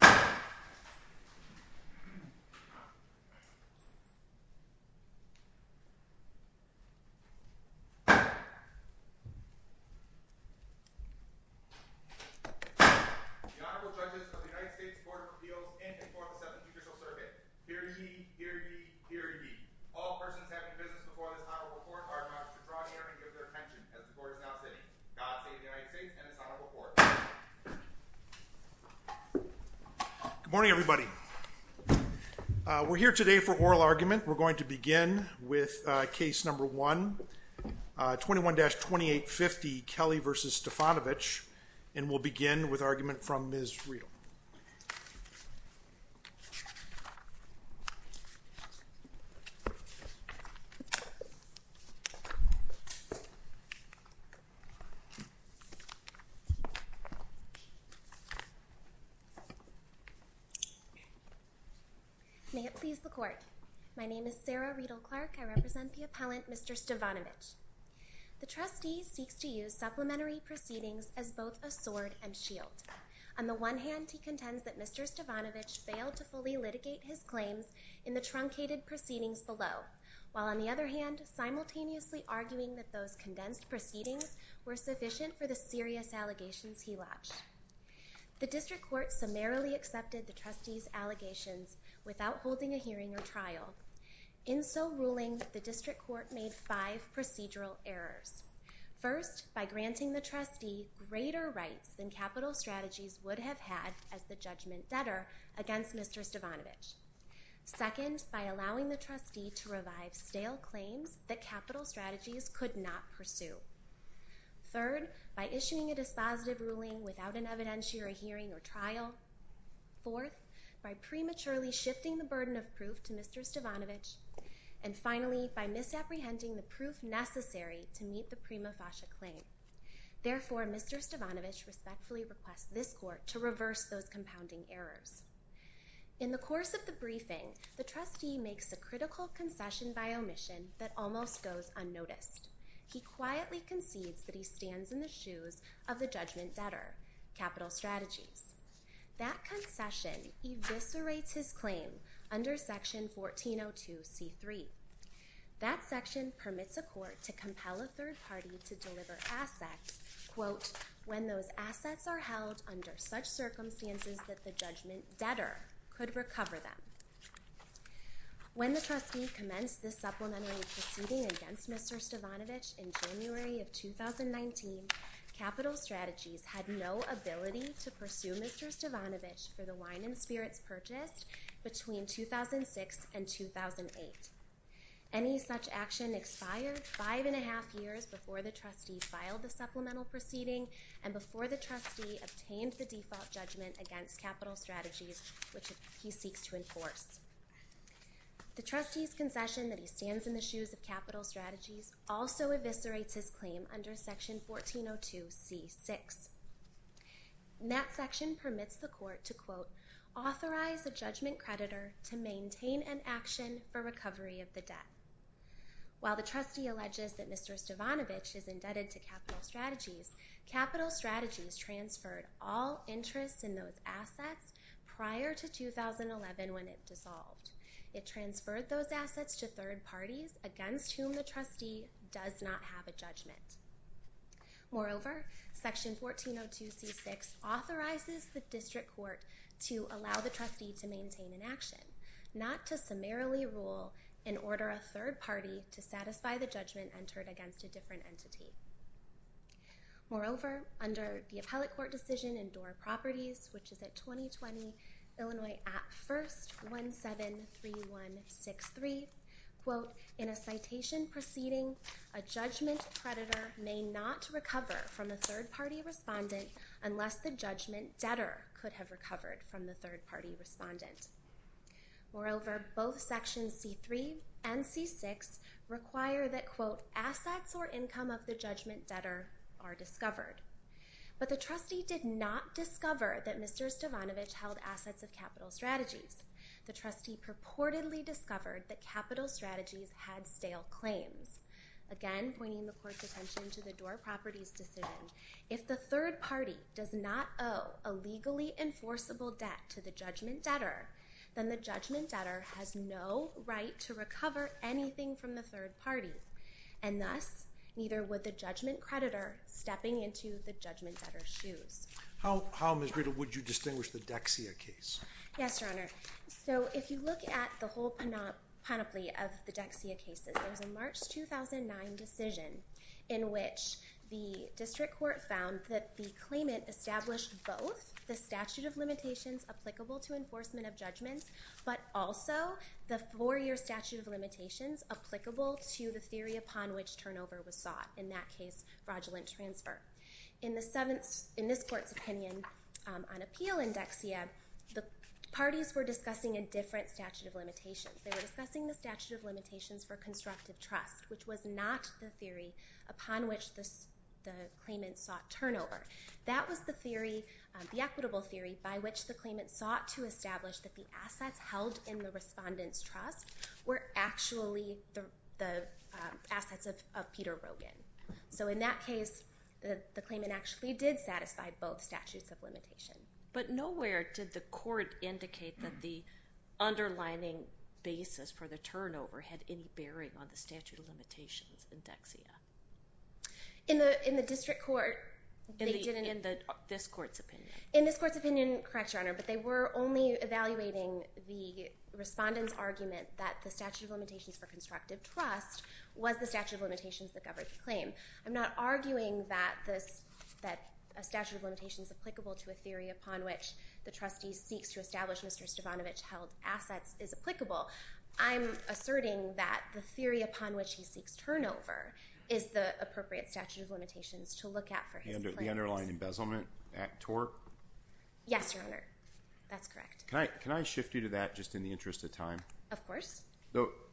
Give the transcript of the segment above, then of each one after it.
The Honorable Judges of the United States Court of Appeals in the 4th and 7th Judicial Surveys. Hear ye, hear ye, hear ye. All persons having business before this Honorable Court are admonished to draw near and give their attention as the Court is now sitting. God save the United States and its Honorable Court. Good morning, everybody. We're here today for oral argument. We're going to begin with case number 1, 21-2850, Kelley v. Stevanovich, and we'll begin with May it please the Court, my name is Sarah Riedel-Clark, I represent the appellant, Mr. Stevanovich. The trustee seeks to use supplementary proceedings as both a sword and shield. On the one hand, he contends that Mr. Stevanovich failed to fully litigate his claims in the truncated proceedings below, while on the other hand, simultaneously arguing that those The district court summarily accepted the trustee's allegations without holding a hearing or trial. In so ruling, the district court made five procedural errors. First, by granting the trustee greater rights than capital strategies would have had as the judgment debtor against Mr. Stevanovich. Second, by allowing the trustee to revive stale claims that capital strategies could not pursue. Third, by issuing a dispositive ruling without an evidentiary hearing or trial. Fourth, by prematurely shifting the burden of proof to Mr. Stevanovich. And finally, by misapprehending the proof necessary to meet the prima facie claim. Therefore, Mr. Stevanovich respectfully requests this court to reverse those compounding errors. In the course of the briefing, the trustee makes a critical concession by omission that almost goes unnoticed. He quietly concedes that he stands in the shoes of the judgment debtor, capital strategies. That concession eviscerates his claim under section 1402C3. That section permits a court to compel a third party to deliver assets, quote, when those assets are held under such circumstances that the judgment debtor could recover them. When the trustee commenced this supplementary proceeding against Mr. Stevanovich in January of 2019, capital strategies had no ability to pursue Mr. Stevanovich for the wine and spirits purchased between 2006 and 2008. Any such action expired five and a half years before the trustee filed the supplemental proceeding and before the trustee obtained the default judgment against capital strategies which he seeks to enforce. The trustee's concession that he stands in the shoes of capital strategies also eviscerates his claim under section 1402C6. That section permits the court to, quote, authorize a judgment creditor to maintain an action for recovery of the debt. While the trustee alleges that Mr. Stevanovich is indebted to capital strategies, capital strategies transferred all interest in those assets prior to 2011 when it dissolved. It transferred those assets to third parties against whom the trustee does not have a judgment. Moreover, section 1402C6 authorizes the district court to allow the trustee to maintain an action, not to summarily rule and order a third party to satisfy the judgment entered against a different entity. Moreover, under the appellate court decision in Doar Properties, which is at 2020 Illinois Act 1st 173163, quote, in a citation proceeding, a judgment creditor may not recover from a third party respondent unless the judgment debtor could have recovered from the third party respondent. Moreover, both sections C3 and C6 require that, quote, assets or income of the judgment debtor are discovered. But the trustee did not discover that Mr. Stevanovich held assets of capital strategies. The trustee purportedly discovered that capital strategies had stale claims. Again, pointing the court's attention to the Doar Properties decision, if the third party does not owe a legally enforceable debt to the judgment debtor, then the judgment debtor has no right to recover anything from the third party. And thus, neither would the judgment creditor stepping into the judgment debtor's shoes. How, Ms. Greta, would you distinguish the Dexia case? Yes, Your Honor. So if you look at the whole panoply of the Dexia cases, there's a March 2009 decision in which the district court found that the claimant established both the statute of limitations applicable to enforcement of judgments, but also the four-year statute of limitations applicable to the theory upon which turnover was sought, in that case, fraudulent transfer. In this court's opinion on appeal in Dexia, the parties were discussing a different statute of limitations. They were discussing the statute of limitations for constructive trust, which was not the upon which the claimant sought turnover. That was the theory, the equitable theory, by which the claimant sought to establish that the assets held in the respondent's trust were actually the assets of Peter Rogin. So in that case, the claimant actually did satisfy both statutes of limitation. But nowhere did the court indicate that the underlining basis for the turnover had any bearing on the statute of limitations in Dexia. In the district court, they didn't. In this court's opinion. In this court's opinion, correct, Your Honor. But they were only evaluating the respondent's argument that the statute of limitations for constructive trust was the statute of limitations that governed the claim. I'm not arguing that a statute of limitation is applicable to a theory upon which the trustee seeks to establish Mr. Stavanovich held assets is applicable. I'm asserting that the theory upon which he seeks turnover is the appropriate statute of limitations to look at for his claims. The underlying embezzlement at tort? Yes, Your Honor. That's correct. Can I shift you to that just in the interest of time? Of course.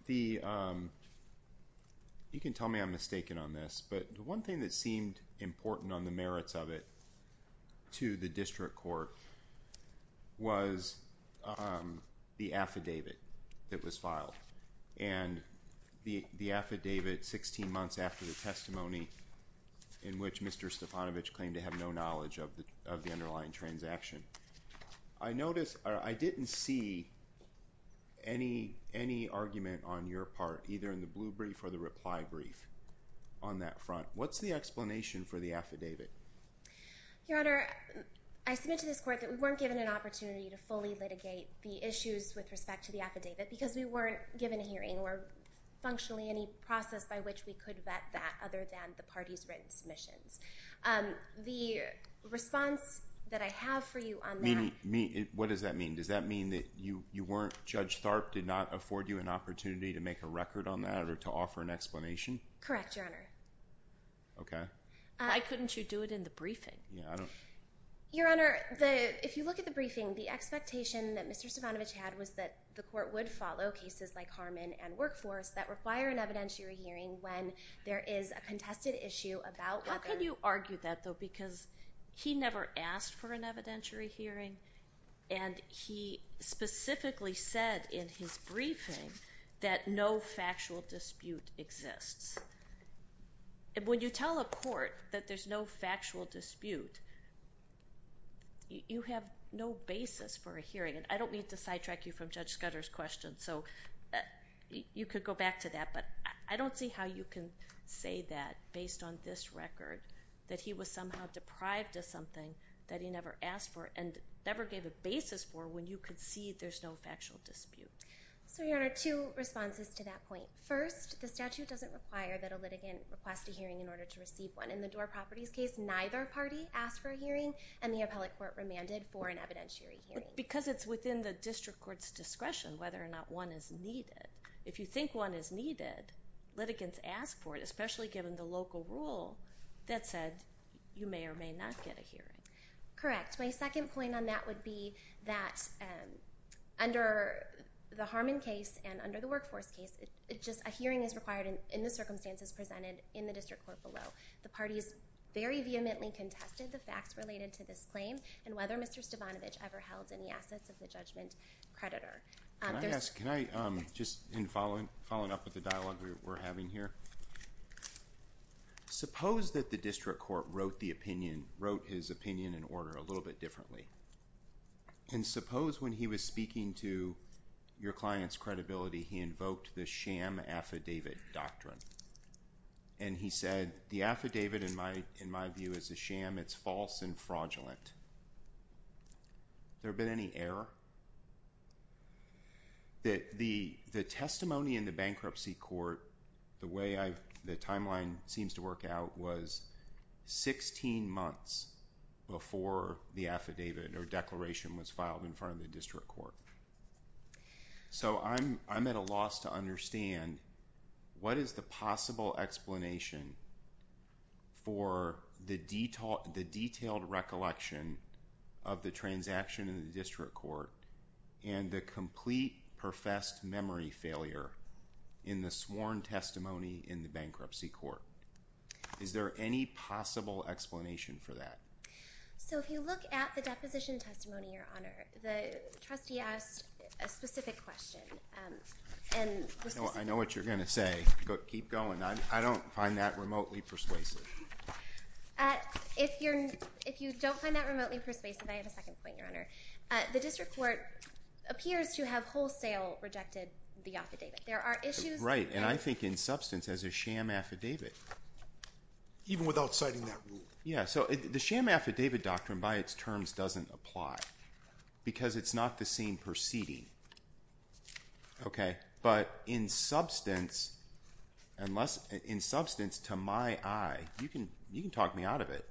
You can tell me I'm mistaken on this. But the one thing that seemed important on the merits of it to the district court was on the affidavit that was filed and the affidavit 16 months after the testimony in which Mr. Stavanovich claimed to have no knowledge of the underlying transaction. I noticed I didn't see any argument on your part, either in the blue brief or the reply brief on that front. What's the explanation for the affidavit? Your Honor, I submit to this court that we weren't given an opportunity to fully litigate the issues with respect to the affidavit because we weren't given a hearing or functionally any process by which we could vet that other than the party's written submissions. The response that I have for you on that. Meaning, what does that mean? Does that mean that you weren't, Judge Tharp did not afford you an opportunity to make a record on that or to offer an explanation? Correct, Your Honor. Okay. Why couldn't you do it in the briefing? Your Honor, if you look at the briefing, the expectation that Mr. Stavanovich had was that the court would follow cases like Harmon and Workforce that require an evidentiary hearing when there is a contested issue about whether— How could you argue that, though, because he never asked for an evidentiary hearing and he specifically said in his briefing that no factual dispute exists. And when you tell a court that there's no factual dispute, you have no basis for a hearing. And I don't need to sidetrack you from Judge Scudder's question, so you could go back to that. But I don't see how you can say that based on this record, that he was somehow deprived of something that he never asked for and never gave a basis for when you concede there's no factual dispute. So, Your Honor, two responses to that point. First, the statute doesn't require that a litigant request a hearing in order to receive one. In the Door Properties case, neither party asked for a hearing and the appellate court remanded for an evidentiary hearing. Because it's within the district court's discretion whether or not one is needed. If you think one is needed, litigants ask for it, especially given the local rule that said you may or may not get a hearing. Correct. My second point on that would be that under the Harmon case and under the Workforce case, just a hearing is required in the circumstances presented in the district court below. The parties very vehemently contested the facts related to this claim and whether Mr. Stavanovich ever held any assets of the judgment creditor. Can I ask, just in following up with the dialogue we're having here, suppose that the district court wrote the opinion, wrote his opinion in order a little bit differently. And suppose when he was speaking to your client's credibility, he invoked the sham affidavit doctrine. And he said, the affidavit, in my view, is a sham. It's false and fraudulent. There been any error? The testimony in the bankruptcy court, the way the timeline seems to work out, was 16 months before the affidavit or declaration was filed in front of the district court. So I'm at a loss to understand, what is the possible explanation for the detailed recollection of the transaction in the district court and the complete professed memory failure in the sworn testimony in the bankruptcy court? Is there any possible explanation for that? So if you look at the deposition testimony, Your Honor, the trustee asked a specific question. I know what you're going to say, but keep going. I don't find that remotely persuasive. If you don't find that remotely persuasive, I have a second point, Your Honor. The district court appears to have wholesale rejected the affidavit. There are issues. I think, in substance, as a sham affidavit. Even without citing that rule? Yeah, so the sham affidavit doctrine, by its terms, doesn't apply because it's not the same proceeding. But in substance, to my eye, you can talk me out of it,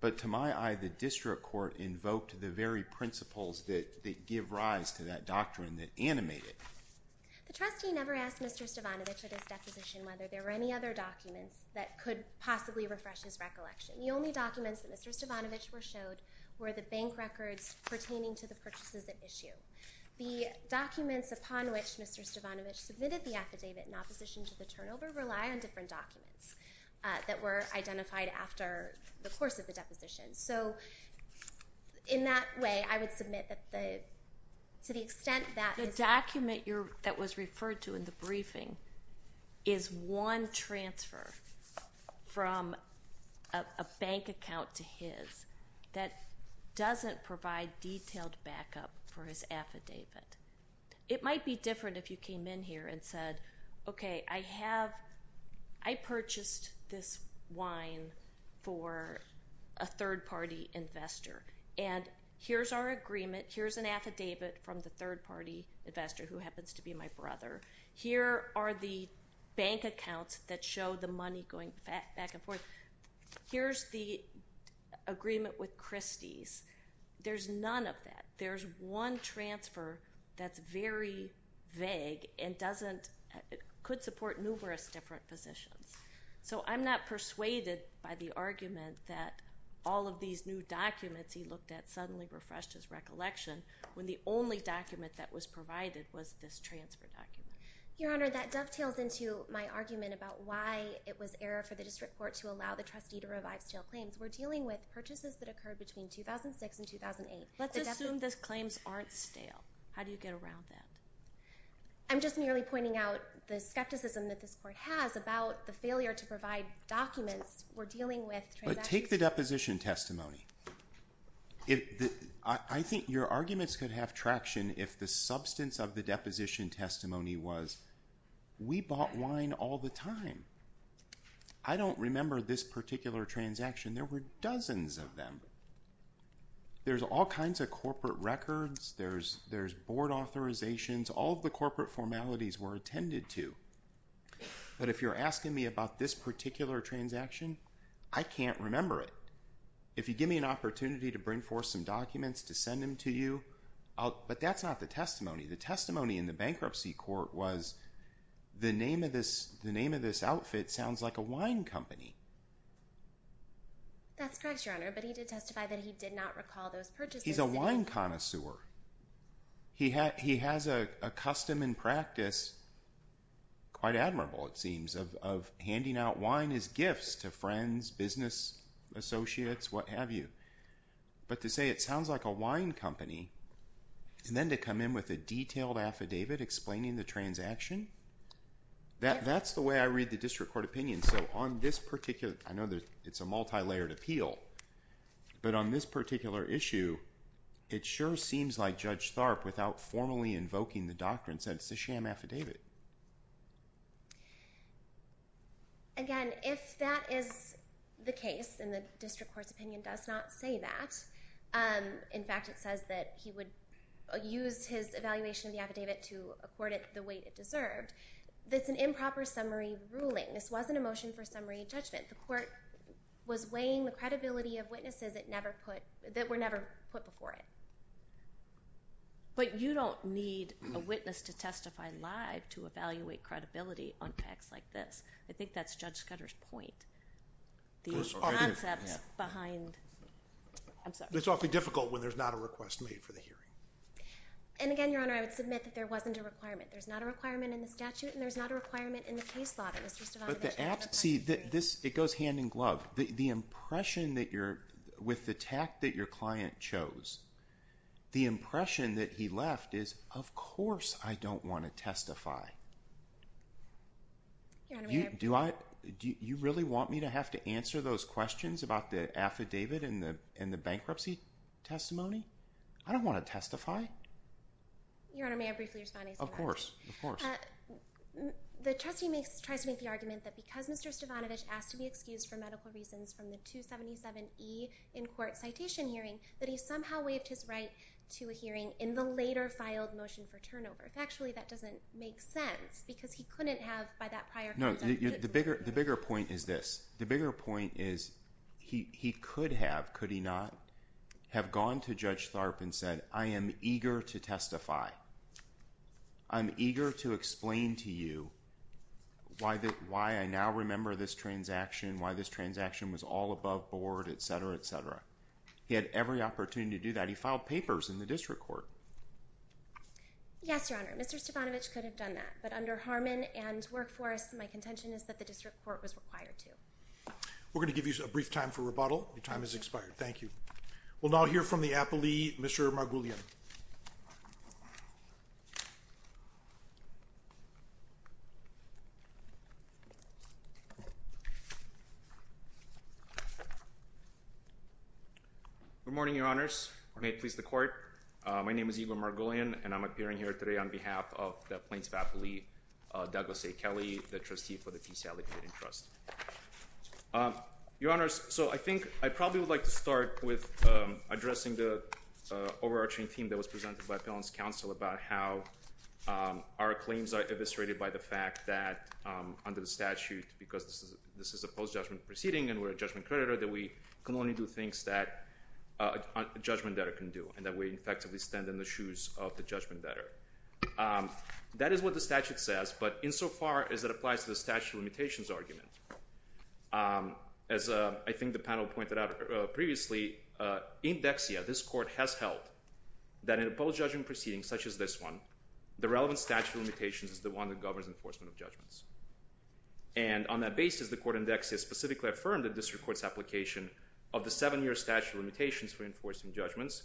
but to my eye, the district court invoked the very principles that give rise to that doctrine that animate it. The trustee never asked Mr. Stavanovich at his deposition whether there were any other documents that could possibly refresh his recollection. The only documents that Mr. Stavanovich was showed were the bank records pertaining to the purchases at issue. The documents upon which Mr. Stavanovich submitted the affidavit in opposition to the turnover rely on different documents that were identified after the course of the deposition. So, in that way, I would submit that to the extent that... The document that was referred to in the briefing is one transfer from a bank account to his that doesn't provide detailed backup for his affidavit. It might be different if you came in here and said, okay, I purchased this wine for a third-party investor, and here's our agreement. Here's an affidavit from the third-party investor who happens to be my brother. Here are the bank accounts that show the money going back and forth. Here's the agreement with Christie's. There's none of that. There's one transfer that's very vague and doesn't... Could support numerous different positions. So, I'm not persuaded by the argument that all of these new documents he looked at suddenly refreshed his recollection when the only document that was provided was this transfer document. Your Honor, that dovetails into my argument about why it was error for the district court to allow the trustee to revive stale claims. We're dealing with purchases that occurred between 2006 and 2008. Let's assume those claims aren't stale. How do you get around that? I'm just merely pointing out the skepticism that this court has about the failure to provide documents. We're dealing with transactions... Take the deposition testimony. I think your arguments could have traction if the substance of the deposition testimony was, we bought wine all the time. I don't remember this particular transaction. There were dozens of them. There's all kinds of corporate records. There's board authorizations. All of the corporate formalities were attended to. But if you're asking me about this particular transaction, I can't remember it. If you give me an opportunity to bring forth some documents to send them to you, but that's not the testimony. The testimony in the bankruptcy court was, the name of this outfit sounds like a wine company. That's correct, your Honor. But he did testify that he did not recall those purchases. He's a wine connoisseur. He has a custom and practice, quite admirable it seems, of handing out wine as gifts to friends, business associates, what have you. But to say it sounds like a wine company, and then to come in with a detailed affidavit explaining the transaction, that's the way I read the district court opinion. I know it's a multi-layered appeal, but on this particular issue, it sure seems like Judge Tharp, without formally invoking the doctrine, said it's a sham affidavit. Again, if that is the case, and the district court's opinion does not say that. In fact, it says that he would use his evaluation of the affidavit to accord it the way it deserved. That's an improper summary ruling. This wasn't a motion for summary judgment. The court was weighing the credibility of witnesses that were never put before it. But you don't need a witness to testify live to evaluate credibility on facts like this. I think that's Judge Scudder's point. The concept behind... I'm sorry. It's awfully difficult when there's not a request made for the hearing. And again, Your Honor, I would submit that there wasn't a requirement. There's not a requirement in the statute, and there's not a requirement in the case law. But the app... See, it goes hand in glove. The impression that you're... With the tact that your client chose, the impression that he left is, of course I don't want to testify. You really want me to have to answer those questions about the affidavit and the bankruptcy testimony? I don't want to testify. Your Honor, may I briefly respond? Of course, of course. The trustee tries to make the argument that because Mr. Stavanovich asked to be excused for medical reasons from the 277E in-court citation hearing, that he somehow waived his right to a hearing in the later filed motion for turnover. Actually, that doesn't make sense because he couldn't have by that prior... No, the bigger point is this. The bigger point is he could have, could he not, have gone to Judge Tharp and said, I am eager to testify. I'm eager to explain to you why I now remember this transaction, why this transaction was all above board, et cetera, et cetera. He had every opportunity to do that. He filed papers in the district court. Yes, Your Honor, Mr. Stavanovich could have done that, but under Harmon and Workforce, my contention is that the district court was required to. We're going to give you a brief time for rebuttal. Your time has expired. Thank you. We'll now hear from the appellee, Mr. Margulien. Good morning, Your Honors. May it please the court. My name is Igor Margulien, and I'm appearing here today on behalf of the Plains Appellee, Douglas A. Kelly, the trustee for the P.C. Allegheny Trust. Your Honors, so I think I probably would like to start with addressing the overarching theme that was presented by appellant's counsel about how our claims are eviscerated by the fact that under the statute, because this is a post-judgment proceeding and we're a judgment creditor, that we can only do things that a judgment debtor can do, and that we effectively stand in the shoes of the judgment debtor. That is what the statute says, but insofar as it applies to the statute of limitations argument, as I think the panel pointed out previously, in Dexia, this court has held that in a post-judgment proceeding such as this one, the relevant statute of limitations is the one that governs enforcement of judgments. And on that basis, the court in Dexia specifically affirmed the district court's application of the seven-year statute of limitations for enforcing judgments,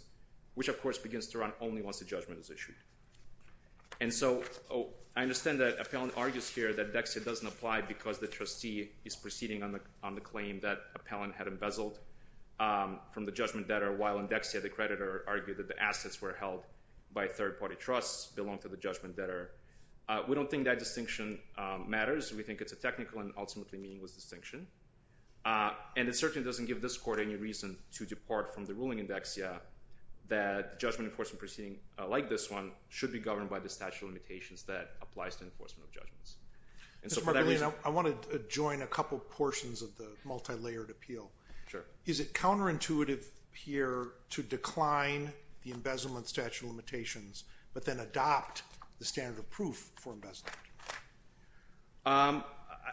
which of course begins to run only once a judgment is issued. And so I understand that appellant argues here that Dexia doesn't apply because the trustee is proceeding on the claim that appellant had embezzled from the judgment debtor while in Dexia, the creditor argued that the assets were held by third-party trusts, belonged to the judgment debtor. We don't think that distinction matters. We think it's a technical and ultimately meaningless distinction. And it certainly doesn't give this court any reason to depart from the ruling in Dexia that judgment enforcement proceeding like this one should be governed by the statute of limitations that applies to enforcement of judgments. And so for that reason- I want to join a couple portions of the multi-layered appeal. Sure. Is it counterintuitive here to decline the embezzlement statute of limitations, but then adopt the standard of proof for embezzlement?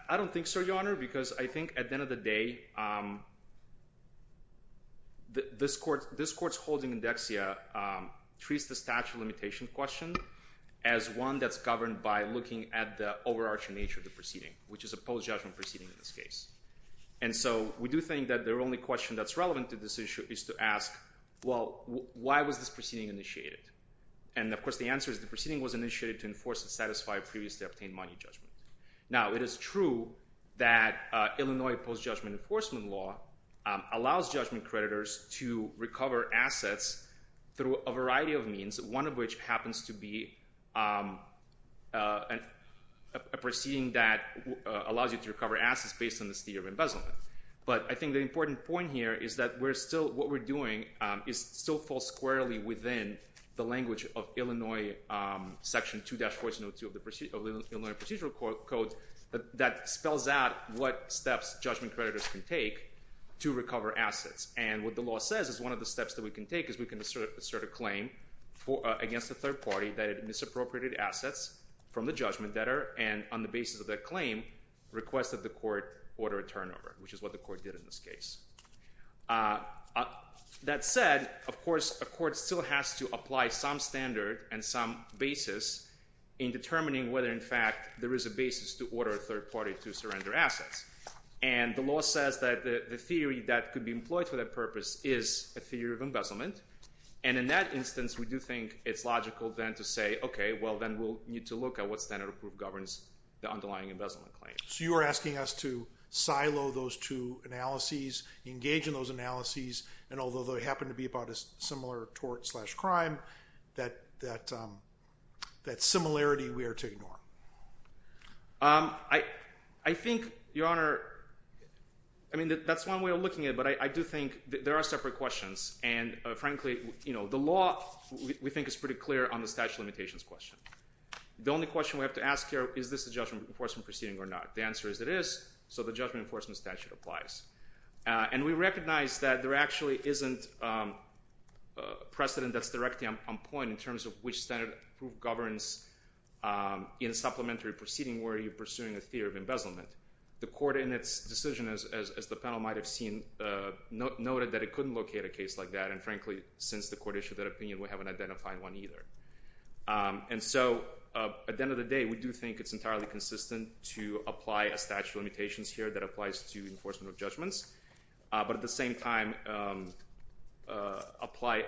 I don't think so, Your Honor, because I think at the end of the day, this court's holding in Dexia treats the statute of limitation question as one that's governed by looking at the overarching nature of the proceeding, which is a post-judgment proceeding in this case. And so we do think that the only question that's relevant to this issue is to ask, well, why was this proceeding initiated? And of course, the answer is the proceeding was initiated to enforce and satisfy a previously obtained money judgment. Now, it is true that Illinois post-judgment enforcement law allows judgment creditors to recover assets through a variety of means, one of which happens to be a proceeding that allows you to recover assets based on this theory of embezzlement. But I think the important point here is that what we're doing is still fall squarely within the language of Illinois Section 2-1402 of the Illinois Procedural Code that spells out what steps judgment creditors can take to recover assets. And what the law says is one of the steps that we can take is we can assert a claim against a third party that had misappropriated assets from the judgment debtor and on the basis of that claim, requested the court order a turnover, which is what the court did in this case. That said, of course, a court still has to apply some standard and some basis in determining whether in fact there is a basis to order a third party to surrender assets. And the law says that the theory that could be employed for that purpose is a theory of embezzlement. And in that instance, we do think it's logical then to say, okay, well, then we'll need to look at what standard of proof governs the underlying embezzlement claim. So you are asking us to silo those two analyses, engage in those analyses, and although they happen to be about a similar tort slash crime, that similarity we are to ignore. I think, Your Honor, I mean, that's one way of looking at it, but I do think there are separate questions. And frankly, you know, the law we think is pretty clear on the statute of limitations question. The only question we have to ask here, is this a judgment enforcement proceeding or not? The answer is it is. So the judgment enforcement statute applies. And we recognize that there actually isn't a precedent that's directly on point in terms of which standard of proof governs in supplementary proceeding where you're pursuing a theory of embezzlement. The court in its decision, as the panel might've seen, noted that it couldn't locate a case like that. And frankly, since the court issued that opinion, we haven't identified one either. And so at the end of the day, we do think it's entirely consistent to apply a statute of limitations here that applies to enforcement of judgments. But at the same time, apply,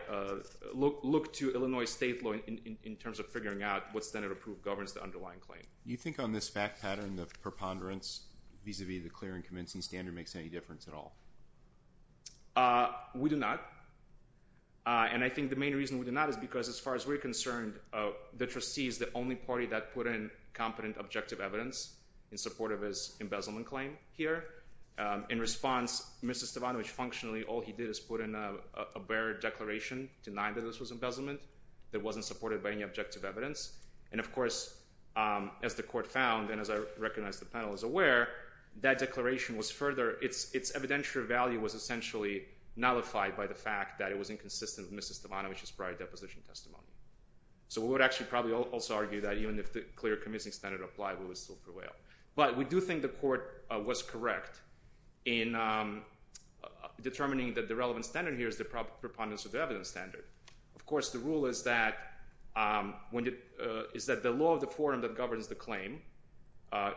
look to Illinois state law in terms of figuring out what standard of proof governs the underlying claim. Do you think on this fact pattern, the preponderance vis-a-vis the clear and convincing standard makes any difference at all? We do not. And I think the main reason we do not is because as far as we're concerned, the trustee is the only party that put in competent objective evidence in support of his embezzlement claim here. In response, Mr. Stavanovich functionally, all he did is put in a bare declaration, denied that this was embezzlement that wasn't supported by any objective evidence. And of course, as the court found, and as I recognize the panel is aware, that declaration was further, its evidential value was essentially nullified by the fact that it was inconsistent with Mr. Stavanovich's prior deposition testimony. So we would actually probably also argue that even if the clear convincing standard applied, we would still prevail. But we do think the court was correct in determining that the relevant standard here is the preponderance of the evidence standard. Of course, the rule is that the law of the forum that governs the claim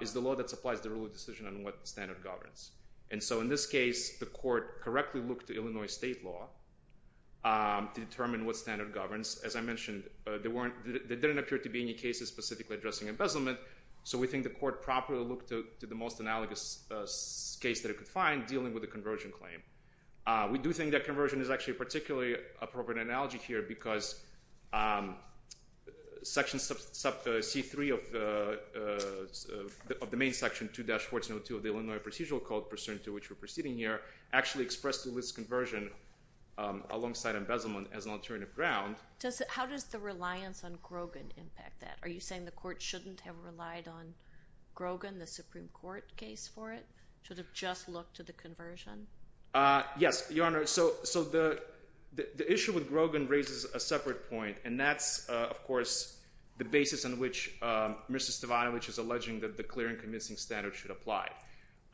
is the law that supplies the rule of decision on what standard governs. And so in this case, the court correctly looked to Illinois state law to determine what standard governs. As I mentioned, there didn't appear to be any cases specifically addressing embezzlement. So we think the court properly looked to the most analogous case that it could find dealing with the conversion claim. We do think that conversion is actually a particularly appropriate analogy here because section C-3 of the main section 2-1402 of the Illinois procedural code pursuant to which we're proceeding here actually expressed to this conversion alongside embezzlement as an alternative ground. How does the reliance on Grogan impact that? Are you saying the court shouldn't have relied on Grogan, the Supreme Court case for it? Should have just looked to the conversion? Yes, Your Honor. So the issue with Grogan raises a separate point. And that's, of course, the basis on which Mr. Stavanovich is alleging that the clear and convincing standard should apply.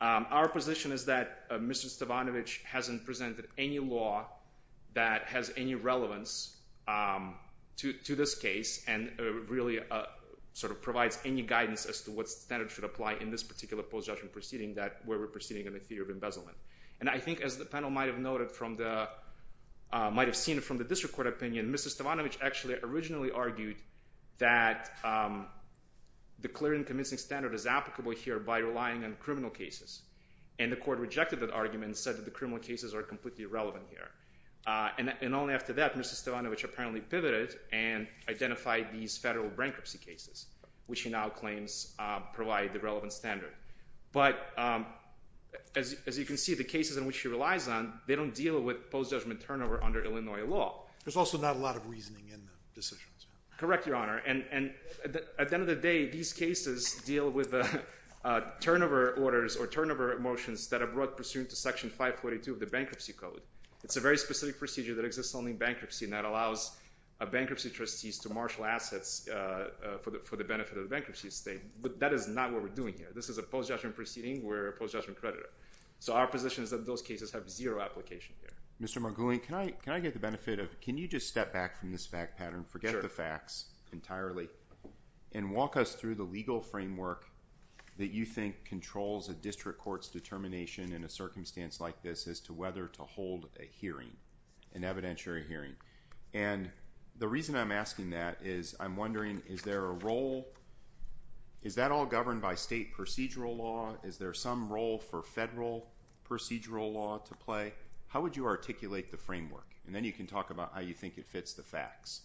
Our position is that Mr. Stavanovich hasn't presented any law that has any relevance to this case and really sort of provides any guidance as to what standard should apply in this particular post-judgment proceeding that we're proceeding in the theory of embezzlement. And I think as the panel might've noted from the, might've seen it from the district court opinion, Mr. Stavanovich actually originally argued that the clear and convincing standard is applicable here by relying on criminal cases. And the court rejected that argument and said that the criminal cases are completely irrelevant here. And only after that, Mr. Stavanovich apparently pivoted and identified these federal bankruptcy cases, which he now claims provide the relevant standard. But as you can see, the cases in which he relies on, they don't deal with post-judgment turnover under Illinois law. There's also not a lot of reasoning in the decisions. Correct, Your Honor. And at the end of the day, these cases deal with turnover orders or turnover motions that are brought pursuant to section 542 of the bankruptcy code. It's a very specific procedure that exists only in bankruptcy and that allows bankruptcy trustees to marshal assets for the benefit of the bankruptcy state. But that is not what we're doing here. This is a post-judgment proceeding. We're a post-judgment creditor. So our position is that those cases have zero application here. Mr. Margolin, can I get the benefit of, can you just step back from this fact pattern, forget the facts entirely, and walk us through the legal framework that you think controls a district court's determination in a circumstance like this as to whether to hold a hearing, an evidentiary hearing. And the reason I'm asking that is I'm wondering, is there a role, is that all governed by state procedural law? Is there some role for federal procedural law to play? How would you articulate the framework? And then you can talk about how you think it fits the facts.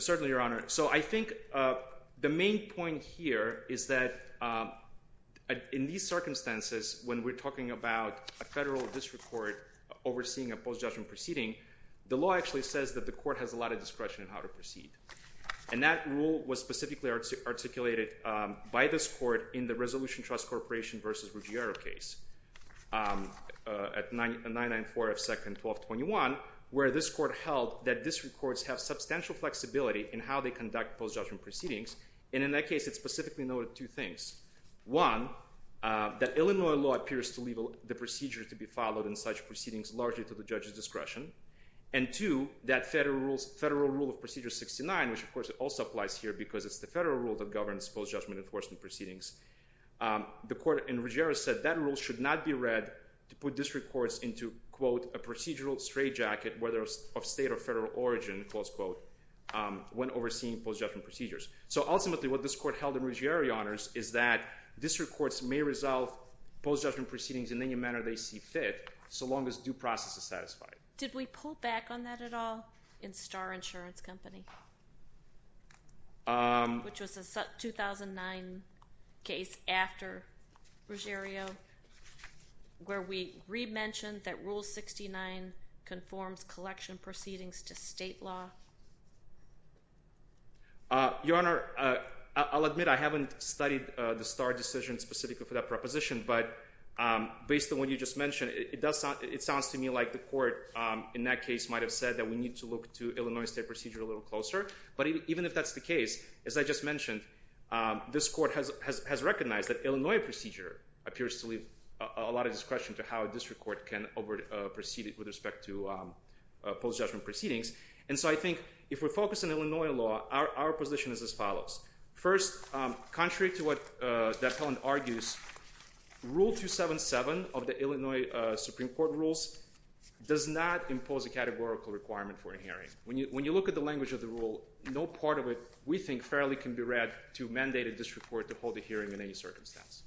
Certainly, Your Honor. So I think the main point here is that in these circumstances, when we're talking about a federal district court overseeing a post-judgment proceeding, the law actually says that the court has a lot of discretion in how to proceed. And that rule was specifically articulated by this court in the Resolution Trust Corporation versus Ruggiero case at 994F 2nd 1221, where this court held that district courts have substantial flexibility in how they conduct post-judgment proceedings. And in that case, it specifically noted two things. One, that Illinois law appears to leave the procedure to be followed in such proceedings largely to the judge's discretion. And two, that federal rule of Procedure 69, which of course also applies here because it's the federal rule that governs post-judgment enforcement proceedings. The court in Ruggiero said that rule should not be read to put district courts into, quote, a procedural straitjacket, whether of state or federal origin, close quote. When overseeing post-judgment procedures. So ultimately what this court held in Ruggiero Honors is that district courts may resolve post-judgment proceedings in any manner they see fit so long as due process is satisfied. Did we pull back on that at all in Starr Insurance Company? Which was a 2009 case after Ruggiero where we re-mentioned that Rule 69 conforms collection proceedings to state law. Your Honor, I'll admit I haven't studied the Starr decision specifically for that proposition, but based on what you just mentioned, it sounds to me like the court in that case might have said that we need to look to Illinois state procedure a little closer. But even if that's the case, as I just mentioned, this court has recognized that Illinois procedure appears to leave a lot of discretion to how a district court can proceed with respect to post-judgment proceedings. And so I think if we focus on Illinois law, our position is as follows. First, contrary to what the appellant argues, Rule 277 of the Illinois Supreme Court rules does not impose a categorical requirement for a hearing. When you look at the language of the rule, no part of it we think fairly can be read to mandate a district court to hold a hearing in any circumstance.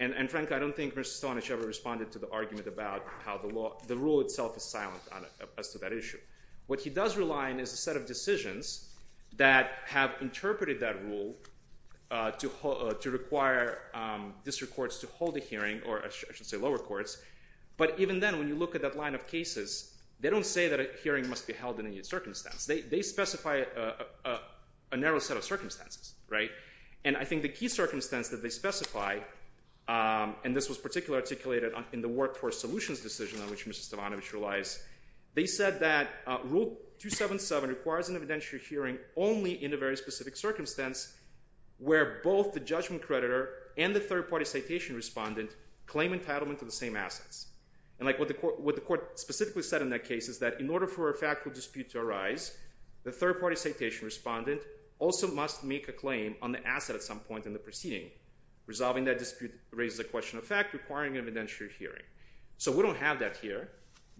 And Frank, I don't think Mr. Stonish ever responded to the argument about how the law, the rule itself is silent as to that issue. What he does rely on is a set of decisions that have interpreted that rule to require district courts to hold a hearing, or I should say lower courts. But even then, when you look at that line of cases, they don't say that a hearing must be held in any circumstance. They specify a narrow set of circumstances, right? And I think the key circumstance that they specify, and this was particularly articulated in the workforce solutions decision on which Mr. Stavanovich relies, they said that rule 277 requires an evidentiary hearing only in a very specific circumstance where both the judgment creditor and the third-party citation respondent claim entitlement to the same assets. And what the court specifically said in that case is that in order for a factual dispute to arise, the third-party citation respondent also must make a claim on the asset at some point in the proceeding. Resolving that dispute raises a question of fact requiring an evidentiary hearing. So we don't have that here.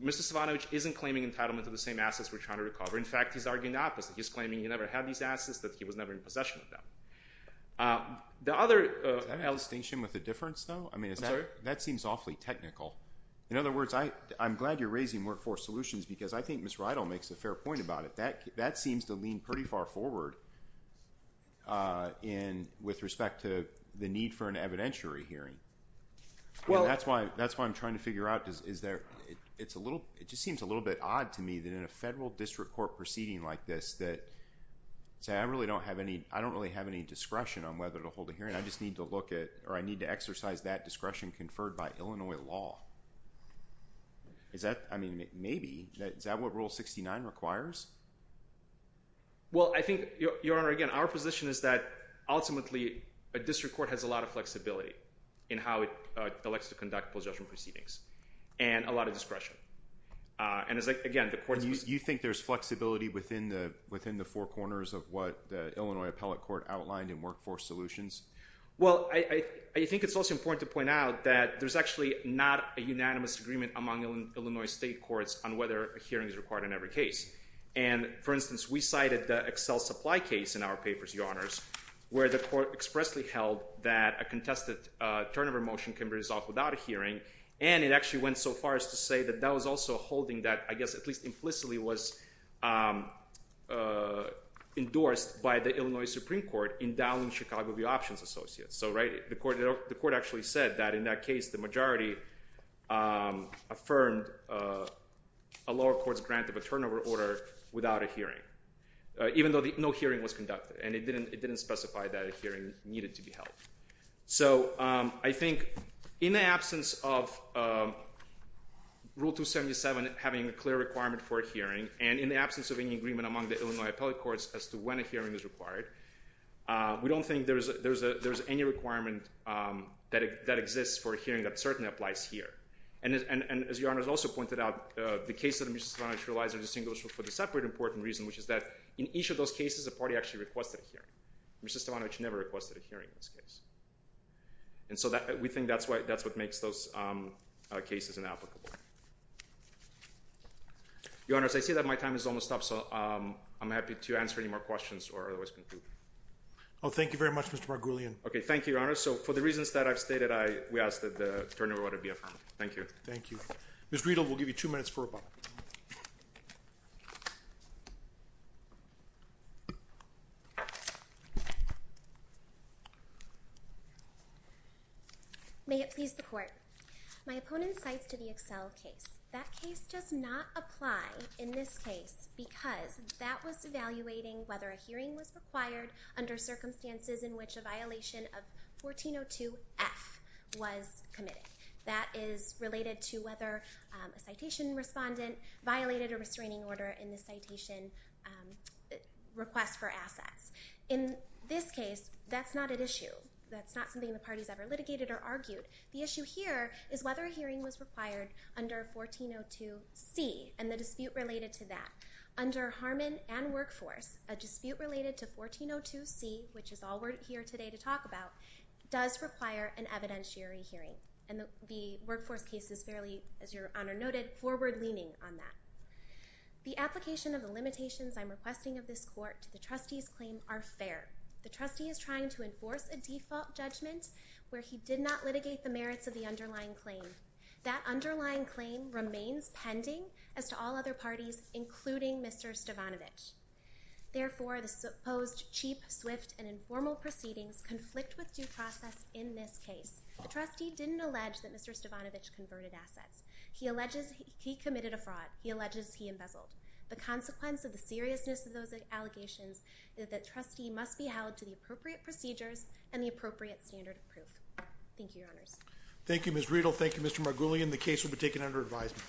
Mr. Stavanovich isn't claiming entitlement to the same assets we're trying to recover. In fact, he's arguing the opposite. He's claiming he never had these assets, that he was never in possession of them. The other- Is that a distinction with a difference, though? I'm sorry? That seems awfully technical. In other words, I'm glad you're raising workforce solutions because I think Ms. Riedel makes a fair point about it. That seems to lean pretty far forward with respect to the need for an evidentiary hearing. Well- That's why I'm trying to figure out, it just seems a little bit odd to me that in a federal district court proceeding like this, I don't really have any discretion on whether to hold a hearing. I just need to exercise that discretion conferred by Illinois law. Maybe. Is that what Rule 69 requires? Well, I think, Your Honor, again, our position is that, ultimately, a district court has a lot of flexibility in how it elects to conduct post-judgment proceedings. And a lot of discretion. You think there's flexibility within the four corners of what the Illinois Appellate Court outlined in Workforce Solutions? Well, I think it's also important to point out that there's actually not a unanimous agreement among Illinois state courts on whether a hearing is required in every case. And, for instance, we cited the Excel supply case in our papers, Your Honors, where the court expressly held that a contested turnover motion can be resolved without a hearing. And it actually went so far as to say that that was also holding that, I guess at least implicitly, was endorsed by the Illinois Supreme Court in downing Chicago View Options Associates. So the court actually said that, in that case, the majority affirmed a lower court's grant of a turnover order without a hearing, even though no hearing was conducted. And it didn't specify that a hearing needed to be held. So I think in the absence of Rule 277 having a clear requirement for a hearing, and in the absence of any agreement among the Illinois Appellate Courts as to when a hearing is required, we don't think there's any requirement that exists for a hearing that certainly applies here. And as Your Honors also pointed out, the cases that Mr. Stavanovich realized are distinguishable for the separate important reason, which is that in each of those cases, a party actually requested a hearing. Mr. Stavanovich never requested a hearing in this case. And so we think that's what makes those cases inapplicable. Your Honors, I see that my time is almost up, so I'm happy to answer any more questions or otherwise conclude. Oh, thank you very much, Mr. Margulian. Okay, thank you, Your Honors. So for the reasons that I've stated, we ask that the turnover order be affirmed. Thank you. Thank you. Ms. Riedel, we'll give you two minutes for rebuttal. Thank you. May it please the Court. My opponent cites to the Excel case. That case does not apply in this case because that was evaluating whether a hearing was required under circumstances in which a violation of 1402F was committed. That is related to whether a citation respondent violated a restraining order in the citation request for assets. In this case, that's not an issue. That's not something the parties ever litigated or argued. The issue here is whether a hearing was required under 1402C and the dispute related to that. Under Harmon and Workforce, a dispute related to 1402C, which is all we're here today to talk about, does require an evidentiary hearing. And the Workforce case is fairly, as Your Honor noted, forward-leaning on that. The application of the limitations I'm requesting of this Court to the trustee's claim are fair. The trustee is trying to enforce a default judgment where he did not litigate the merits of the underlying claim. That underlying claim remains pending as to all other parties, including Mr. Stavanovich. Therefore, the supposed cheap, swift, and informal proceedings conflict with due process in this case. The trustee didn't allege that Mr. Stavanovich converted assets. He alleges he committed a fraud. He alleges he embezzled. The consequence of the seriousness of those allegations is that trustee must be held to the appropriate procedures and the appropriate standard of proof. Thank you, Your Honors. Thank you, Ms. Riedel. Thank you, Mr. Margulian. The case will be taken under advisement.